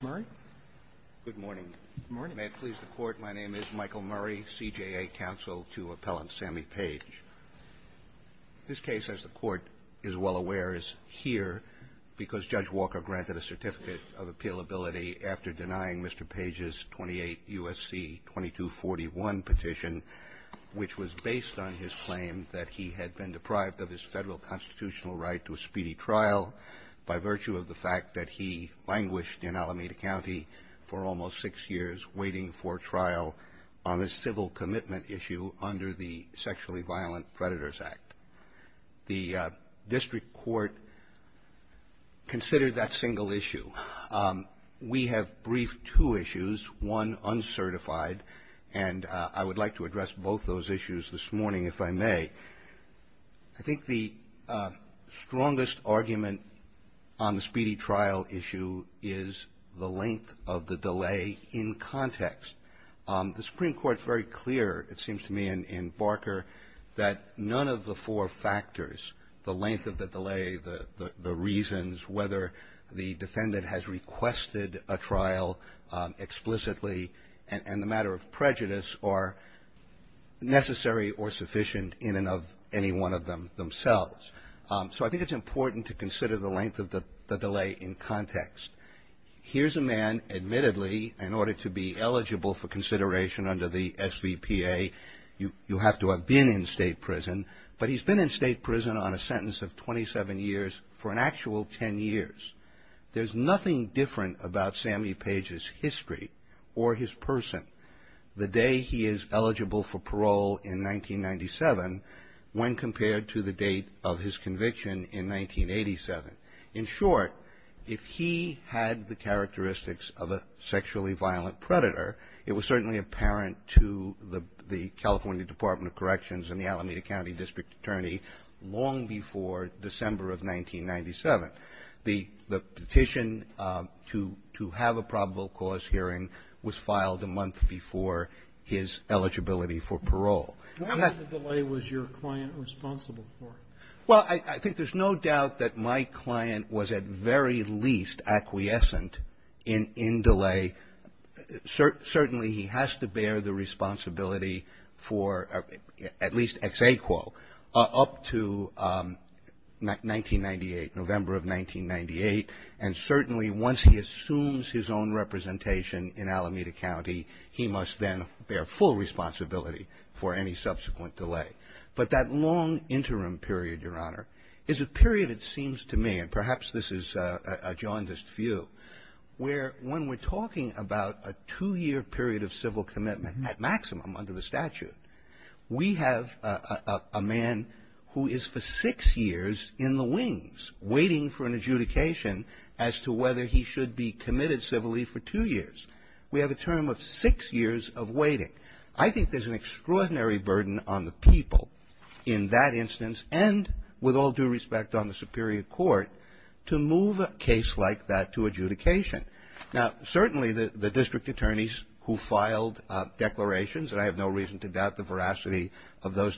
Murray? Good morning. Good morning. May it please the Court, my name is Michael Murray, CJA counsel to Appellant Sammy Page. This case, as the Court is well aware, is here because Judge Walker granted a certificate of appealability after denying Mr. Page's 28 U.S.C. 2241 petition, which was based on his claim that he had been deprived of his Federal constitutional right to a speedy trial by virtue of the fact that he languished in Alameda County for almost six years, waiting for trial on a civil commitment issue under the Sexually Violent Predators Act. The district court considered that single issue. We have briefed two issues, one uncertified, and I would like to address both those issues this morning, if I may. I think the strongest argument on the speedy trial issue is the length of the delay in context. The Supreme Court is very clear, it seems to me, in Barker, that none of the four factors, the length of the delay, the reasons, whether the defendant has requested a trial explicitly and the matter of prejudice are necessary or sufficient in and of any one of them themselves. So I think it's important to consider the length of the delay in context. Here's a man, admittedly, in order to be eligible for consideration under the SVPA, you have to have been in state prison, but he's been in state prison on a sentence of 27 years for an actual 10 years. There's nothing different about Sammy Page's history or his person. The day he is eligible for parole in 1997 when compared to the date of his conviction in 1987. In short, if he had the characteristics of a sexually violent predator, it was certainly apparent to the California Department of Corrections and the Alameda County District Attorney long before December of 1997. The petition to have a probable cause hearing was filed a month before his eligibility for parole. Why was the delay was your client responsible for? Well, I think there's no doubt that my client was at very least acquiescent in delay. Certainly he has to bear the responsibility for at least XA quo up to 1998, November of 1998. And certainly once he assumes his own representation in Alameda County, he must then bear full responsibility for any subsequent delay. But that long interim period, Your Honor, is a period it seems to me, and perhaps this is a jaundiced view, where when we're talking about a two year period of civil commitment at maximum under the statute, we have a man who is for six years in the waiting for an adjudication as to whether he should be committed civilly for two years. We have a term of six years of waiting. I think there's an extraordinary burden on the people in that instance, and with all due respect on the superior court, to move a case like that to adjudication. Now, certainly the district attorneys who filed declarations, and I have no reason to doubt the veracity of those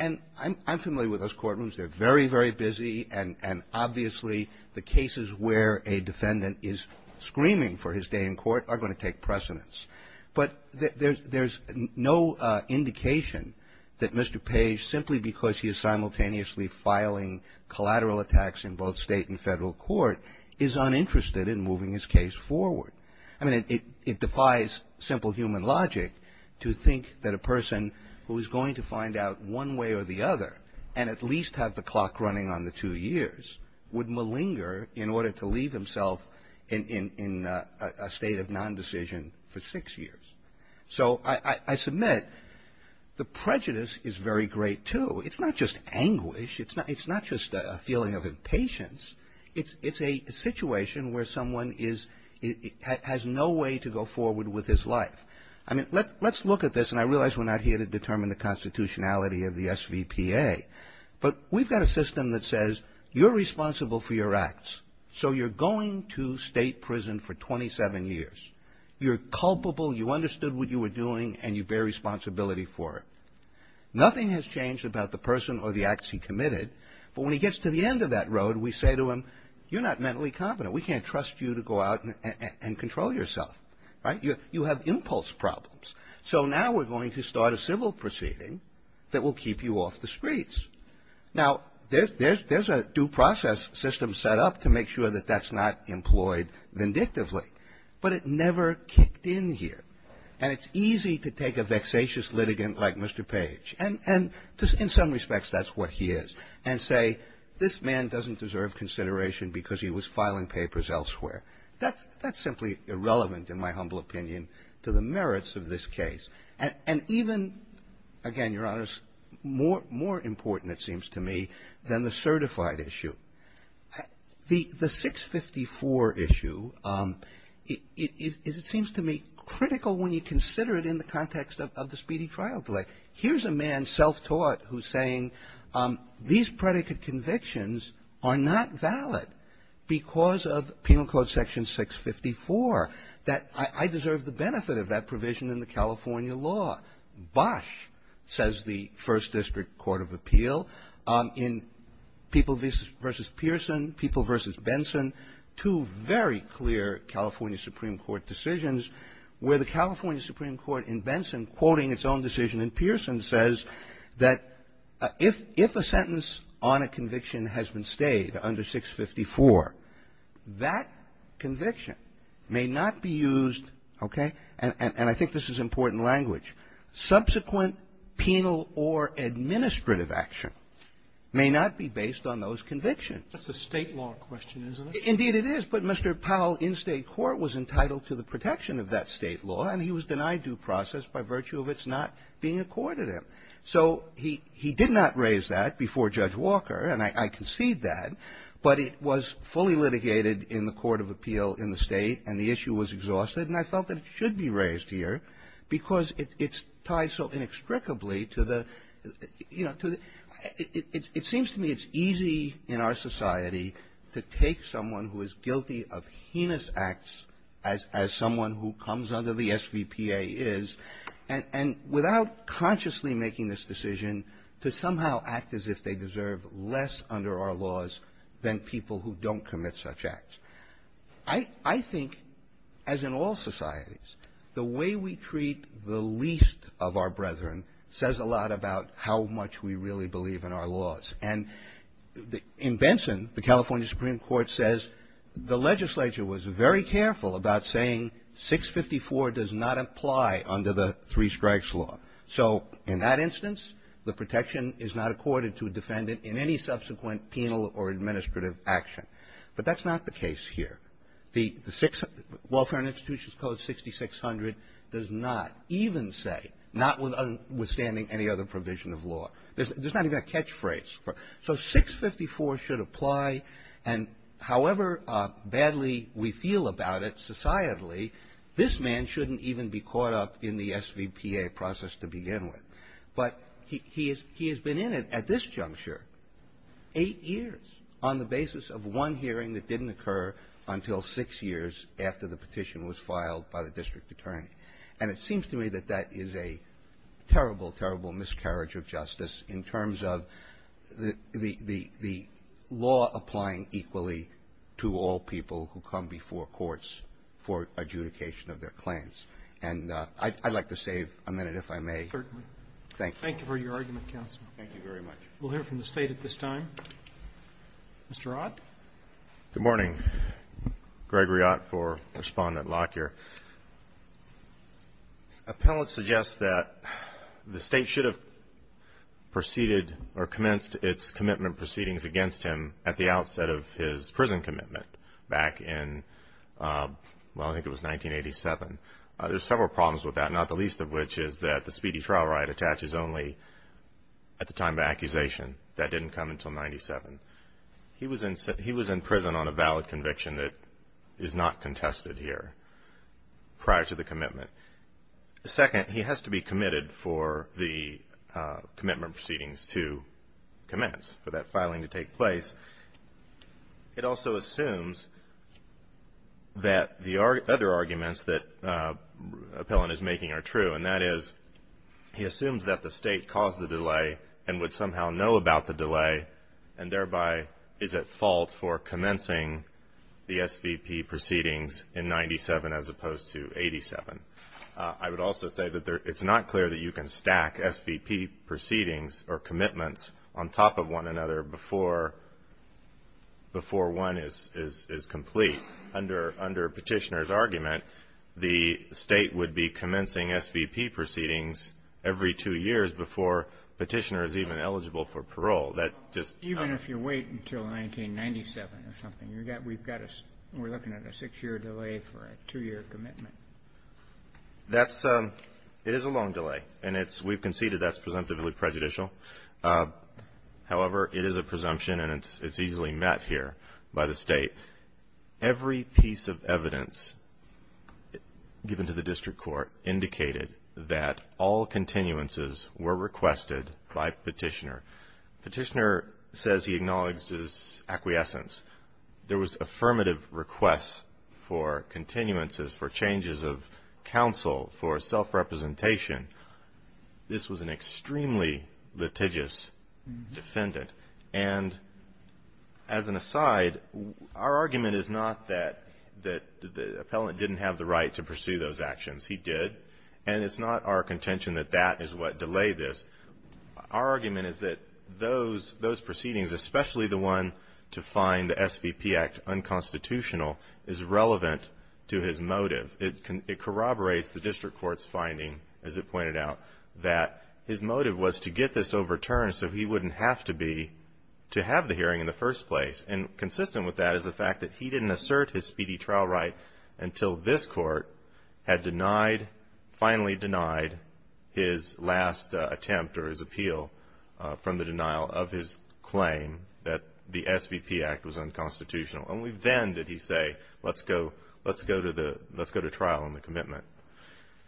And I'm familiar with those courtrooms. They're very, very busy, and obviously the cases where a defendant is screaming for his day in court are going to take precedence. But there's no indication that Mr. Page, simply because he is simultaneously filing collateral attacks in both State and Federal court, is uninterested in moving his case forward. I mean, it defies simple human logic to think that a person who is going to find out one way or the other, and at least have the clock running on the two years, would malinger in order to leave himself in a state of non-decision for six years. So I submit the prejudice is very great, too. It's not just anguish. It's not just a feeling of impatience. It's a situation where someone has no way to go forward with his life. I mean, let's look at this, and I realize we're not here to determine the constitutionality of the SVPA, but we've got a system that says you're responsible for your acts, so you're going to state prison for 27 years. You're culpable, you understood what you were doing, and you bear responsibility for it. Nothing has changed about the person or the acts he committed, but when he gets to the end of that road, we say to him, you're not mentally competent. We can't trust you to go out and control yourself, right? You have impulse problems. So now we're going to start a civil proceeding that will keep you off the streets. Now, there's a due process system set up to make sure that that's not employed vindictively, but it never kicked in here, and it's easy to take a vexatious litigant like Mr. Page, and in some respects, that's what he is, and say, this man doesn't deserve consideration because he was filing papers elsewhere. That's simply irrelevant, in my humble opinion, to the merits of this case. And even, again, Your Honors, more important, it seems to me, than the certified issue. The 654 issue is, it seems to me, critical when you consider it in the context of the speedy trial delay. Here's a man, self-taught, who's saying these predicate convictions are not valid because of Penal Code Section 654, that I deserve the benefit of that provision in the California law. Bosch says the First District Court of Appeal in People v. Pearson, People v. Benson, two very clear California Supreme Court decisions, where the California Supreme Court in Benson, quoting its own decision in Pearson, says that if a sentence on a conviction has been stayed under 654, that conviction may not be used, okay? And I think this is important language. Subsequent penal or administrative action may not be based on those convictions. That's a State law question, isn't it? Indeed, it is. But Mr. Powell in State court was entitled to the protection of that State law, and he was denied due process by virtue of its not being accorded him. So he did not raise that before Judge Walker, and I concede that. But it was fully litigated in the Court of Appeal in the State, and the issue was exhausted, and I felt that it should be raised here because it's tied so inextricably to the – you know, to the – it seems to me it's easy in our society to take someone who is guilty of heinous acts as someone who comes under the SVPA is, and – and without consciously making this decision to somehow act as if they deserve less under our laws than people who don't commit such acts. I – I think, as in all societies, the way we treat the least of our brethren says a lot about how much we really believe in our laws. And in Benson, the California Supreme Court says the legislature was very careful about saying, say what you want to say, but 654 does not apply under the Three Strikes Law. So in that instance, the protection is not accorded to a defendant in any subsequent penal or administrative action. But that's not the case here. The Six – Welfare and Institutions Code 6600 does not even say, notwithstanding any other provision of law, there's not even a catchphrase. So 654 should apply, and however badly we feel about it societally, this man shouldn't even be caught up in the SVPA process to begin with. But he – he has been in it at this juncture eight years on the basis of one hearing that didn't occur until six years after the petition was filed by the district attorney. And it seems to me that that is a terrible, terrible miscarriage of justice in terms of the – the – the law applying equally to all people who come before courts for adjudication of their claims. And I'd like to save a minute, if I may. Certainly. Thank you. Thank you for your argument, counsel. Thank you very much. We'll hear from the State at this time. Mr. Ott. Good morning. Gregory Ott for Respondent Lockyer. Appellants suggest that the State should have proceeded or commenced its commitment proceedings against him at the outset of his prison commitment back in – well, I think it was 1987. There are several problems with that, not the least of which is that the speedy trial riot attaches only at the time of accusation. That didn't come until 97. He was in – he was in prison on a valid conviction that is not contested here prior to the commitment. Second, he has to be committed for the commitment proceedings to commence, for that filing to take place. It also assumes that the other arguments that appellant is making are true, and that is he assumes that the State caused the delay and would somehow know about the delay and thereby is at fault for commencing the SVP proceedings in 97 as opposed to 87. I would also say that it's not clear that you can stack SVP proceedings or commitments on top of one another before one is complete. Under Petitioner's argument, the State would be commencing SVP proceedings every two years before Petitioner is even eligible for parole. Even if you wait until 1997 or something, we're looking at a six-year delay for a two-year commitment. That's – it is a long delay, and it's – we've conceded that's presumptively prejudicial. However, it is a presumption, and it's easily met here by the State. Every piece of evidence given to the district court indicated that all continuances were requested by Petitioner. Petitioner says he acknowledges acquiescence. There was affirmative request for continuances, for changes of counsel, for self-representation. This was an extremely litigious defendant. And as an aside, our argument is not that the appellant didn't have the right to pursue those actions. He did, and it's not our contention that that is what delayed this. Our argument is that those proceedings, especially the one to find the SVP Act unconstitutional, is relevant to his motive. It corroborates the district court's finding, as it pointed out, that his motive was to get this overturned so he wouldn't have to be – to have the hearing in the first place. And consistent with that is the fact that he didn't assert his speedy trial right until this court had denied – finally denied his last attempt or his appeal from the denial of his claim that the SVP Act was unconstitutional. Only then did he say, let's go – let's go to the – let's go to trial on the commitment.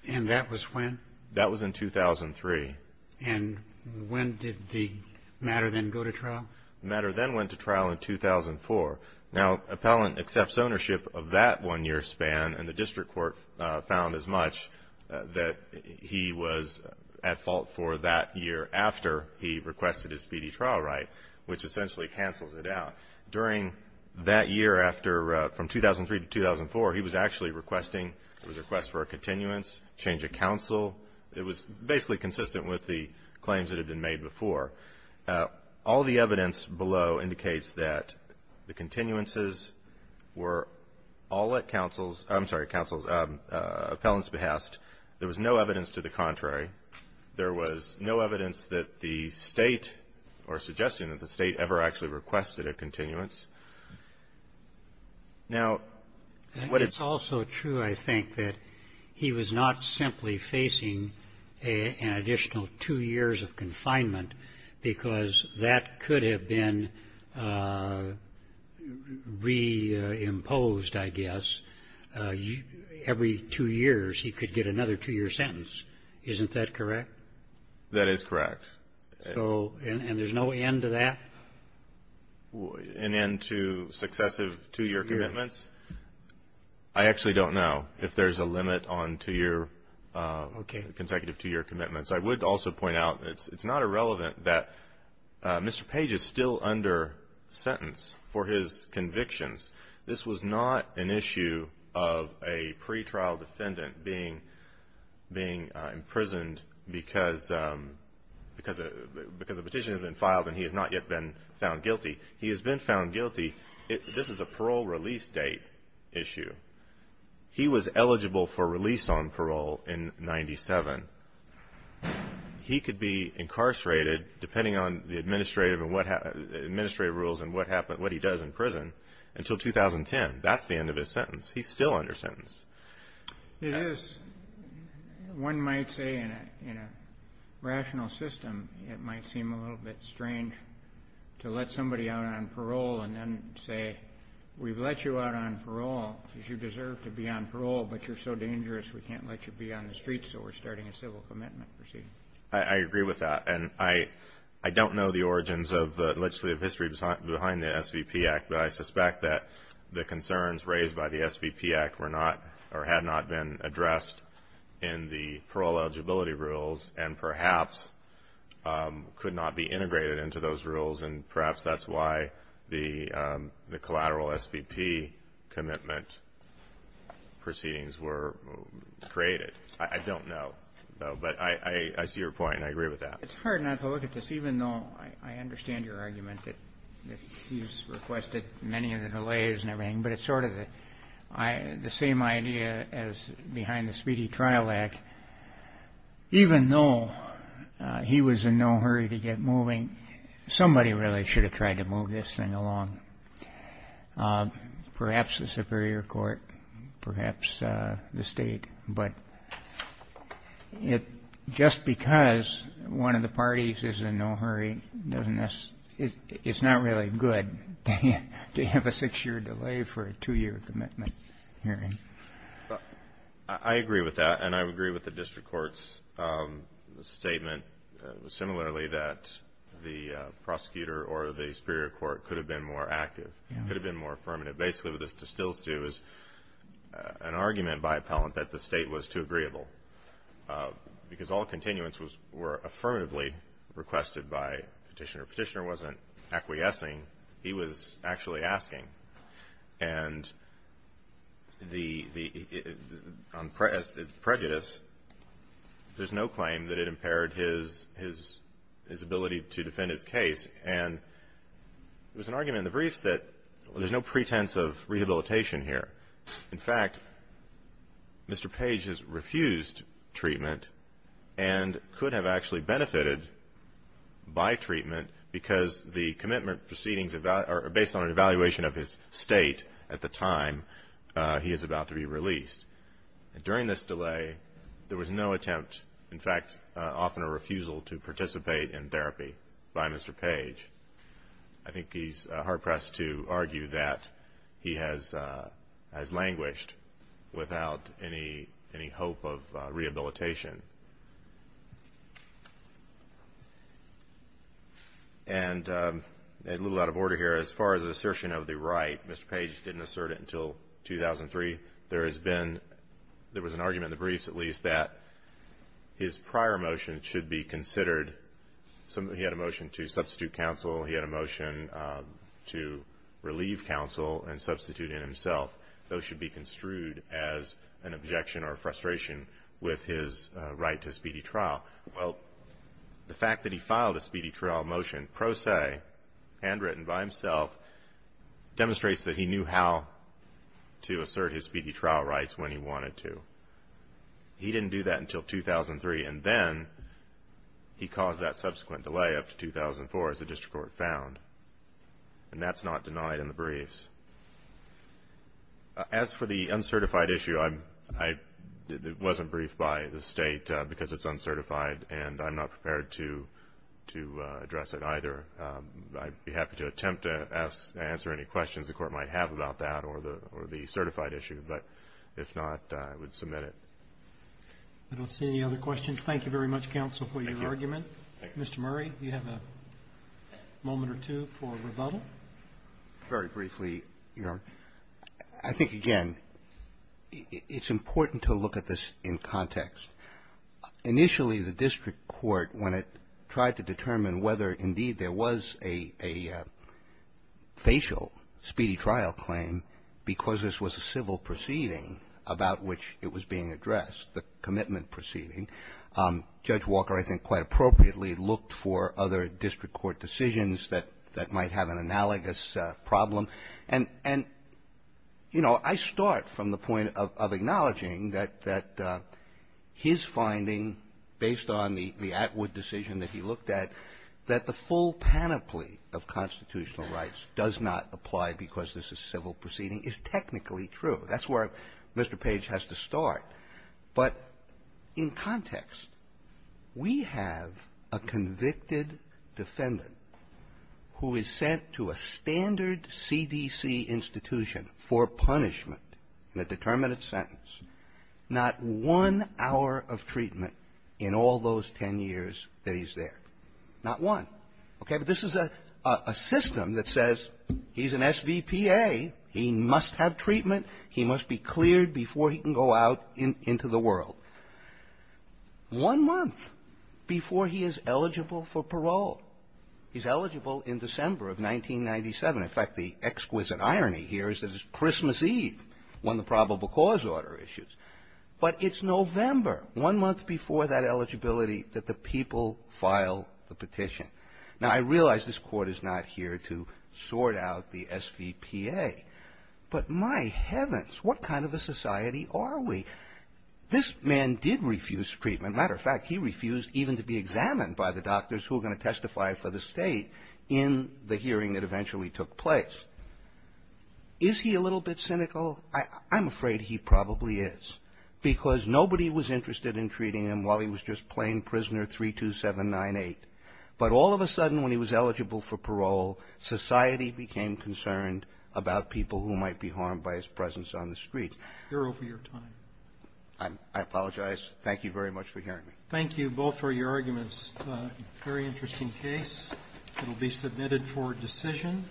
And that was when? That was in 2003. And when did the matter then go to trial? The matter then went to trial in 2004. Now, appellant accepts ownership of that one-year span, and the district court found as much that he was at fault for that year after he requested his speedy trial right, which essentially cancels it out. During that year after – from 2003 to 2004, he was actually requesting – it was a request for a continuance, change of counsel. It was basically consistent with the claims that had been made before. All the evidence below indicates that the continuances were all at counsel's – I'm sorry, counsel's – appellant's behest. There was no evidence to the contrary. There was no evidence that the State – or suggestion that the State ever actually requested a continuance. Now, what it's – It's also true, I think, that he was not simply facing an additional two years of confinement because that could have been re-imposed, I guess. Every two years, he could get another two-year sentence. Isn't that correct? That is correct. So – and there's no end to that? An end to successive two-year commitments? I actually don't know if there's a limit on two-year – Okay. – consecutive two-year commitments. I would also point out that it's not irrelevant that Mr. Page is still under sentence for his convictions. This was not an issue of a pretrial defendant being imprisoned because – because a petition had been filed and he has not yet been found guilty. He has been found guilty – this is a parole release date issue. He was eligible for release on parole in 97. He could be incarcerated, depending on the administrative rules and what he does in prison, until 2010. That's the end of his sentence. He's still under sentence. It is. One might say in a rational system it might seem a little bit strange to let somebody out on parole and then say, we've let you out on parole because you deserve to be on parole, but you're so dangerous we can't let you be on the streets, so we're starting a civil commitment proceeding. I agree with that. And I don't know the origins of the legislative history behind the SVP Act, but I suspect that the concerns raised by the SVP Act were not – or had not been addressed in the parole eligibility rules and perhaps could not be addressed by the collateral SVP commitment proceedings were created. I don't know. But I see your point and I agree with that. It's hard not to look at this, even though I understand your argument that he's requested many of the delays and everything, but it's sort of the same idea as behind the Speedy Trial Act. Even though he was in no hurry to get moving, somebody really should have tried to move this thing along, perhaps the superior court, perhaps the state. But just because one of the parties is in no hurry doesn't – it's not really good to have a six-year delay for a two-year commitment hearing. I agree with that. And I agree with the district court's statement similarly that the prosecutor or the superior court could have been more active, could have been more affirmative. Basically, what this distills to is an argument by Appellant that the state was too agreeable because all continuance were affirmatively requested by Petitioner. Petitioner wasn't acquiescing. He was actually asking. And on prejudice, there's no claim that it impaired his ability to defend his case. And there's an argument in the briefs that there's no pretense of rehabilitation here. In fact, Mr. Page has refused treatment and could have actually benefited by treatment because the commitment proceedings are based on an evaluation of his state at the time he is about to be released. During this delay, there was no attempt, in fact, often a refusal to participate in therapy by Mr. Page. I think he's hard-pressed to argue that he has languished without any hope of rehabilitation. And a little out of order here, as far as assertion of the right, Mr. Page didn't assert it until 2003. There has been, there was an argument in the briefs at least, that his prior motion should be considered. He had a motion to substitute counsel. He had a motion to relieve counsel and substitute in himself. Those should be construed as an objection or a frustration with his right to speedy trial. Well, the fact that he filed a speedy trial motion pro se, handwritten by himself, demonstrates that he knew how to assert his speedy trial rights when he wanted to. He didn't do that until 2003, and then he caused that subsequent delay up to 2004, as the District Court found. And that's not denied in the briefs. As for the uncertified issue, it wasn't briefed by the State because it's uncertified, and I'm not prepared to address it either. I'd be happy to attempt to answer any questions the Court might have about that or the certified issue. But if not, I would submit it. I don't see any other questions. Thank you very much, counsel, for your argument. Thank you. Mr. Murray, do you have a moment or two for rebuttal? Very briefly, Your Honor. I think, again, it's important to look at this in context. Initially, the District Court, when it tried to determine whether, indeed, there was a facial speedy trial claim because this was a civil proceeding about which it was being addressed, the commitment proceeding, Judge Walker, I think quite appropriately, looked for other District Court decisions that might have an analogous problem. And, you know, I start from the point of acknowledging that his finding, based on the Atwood decision that he looked at, that the full panoply of constitutional rights does not apply because this is civil proceeding is technically true. That's where Mr. Page has to start. But in context, we have a convicted defendant who is sent to a standard CDC institution for punishment in a determinate sentence, not one hour of treatment in all those 10 years that he's there. Not one. Okay? But this is a system that says he's an SVPA, he must have treatment, he must be cleared before he can go out into the world, one month before he is eligible for parole. He's eligible in December of 1997. In fact, the exquisite irony here is that it's Christmas Eve when the probable cause order issues. But it's November, one month before that eligibility, that the people file the petition. Now, I realize this Court is not here to sort out the SVPA, but my heavens, what kind of a society are we? This man did refuse treatment. Matter of fact, he refused even to be examined by the doctors who were going to testify for the State in the hearing that eventually took place. Is he a little bit cynical? I'm afraid he probably is, because nobody was interested in treating him while he was just plain Prisoner 32798. But all of a sudden, when he was eligible for parole, society became concerned about people who might be harmed by his presence on the street. I apologize. Thank you very much for hearing me. Roberts. Thank you both for your arguments. Very interesting case. It will be submitted for decision.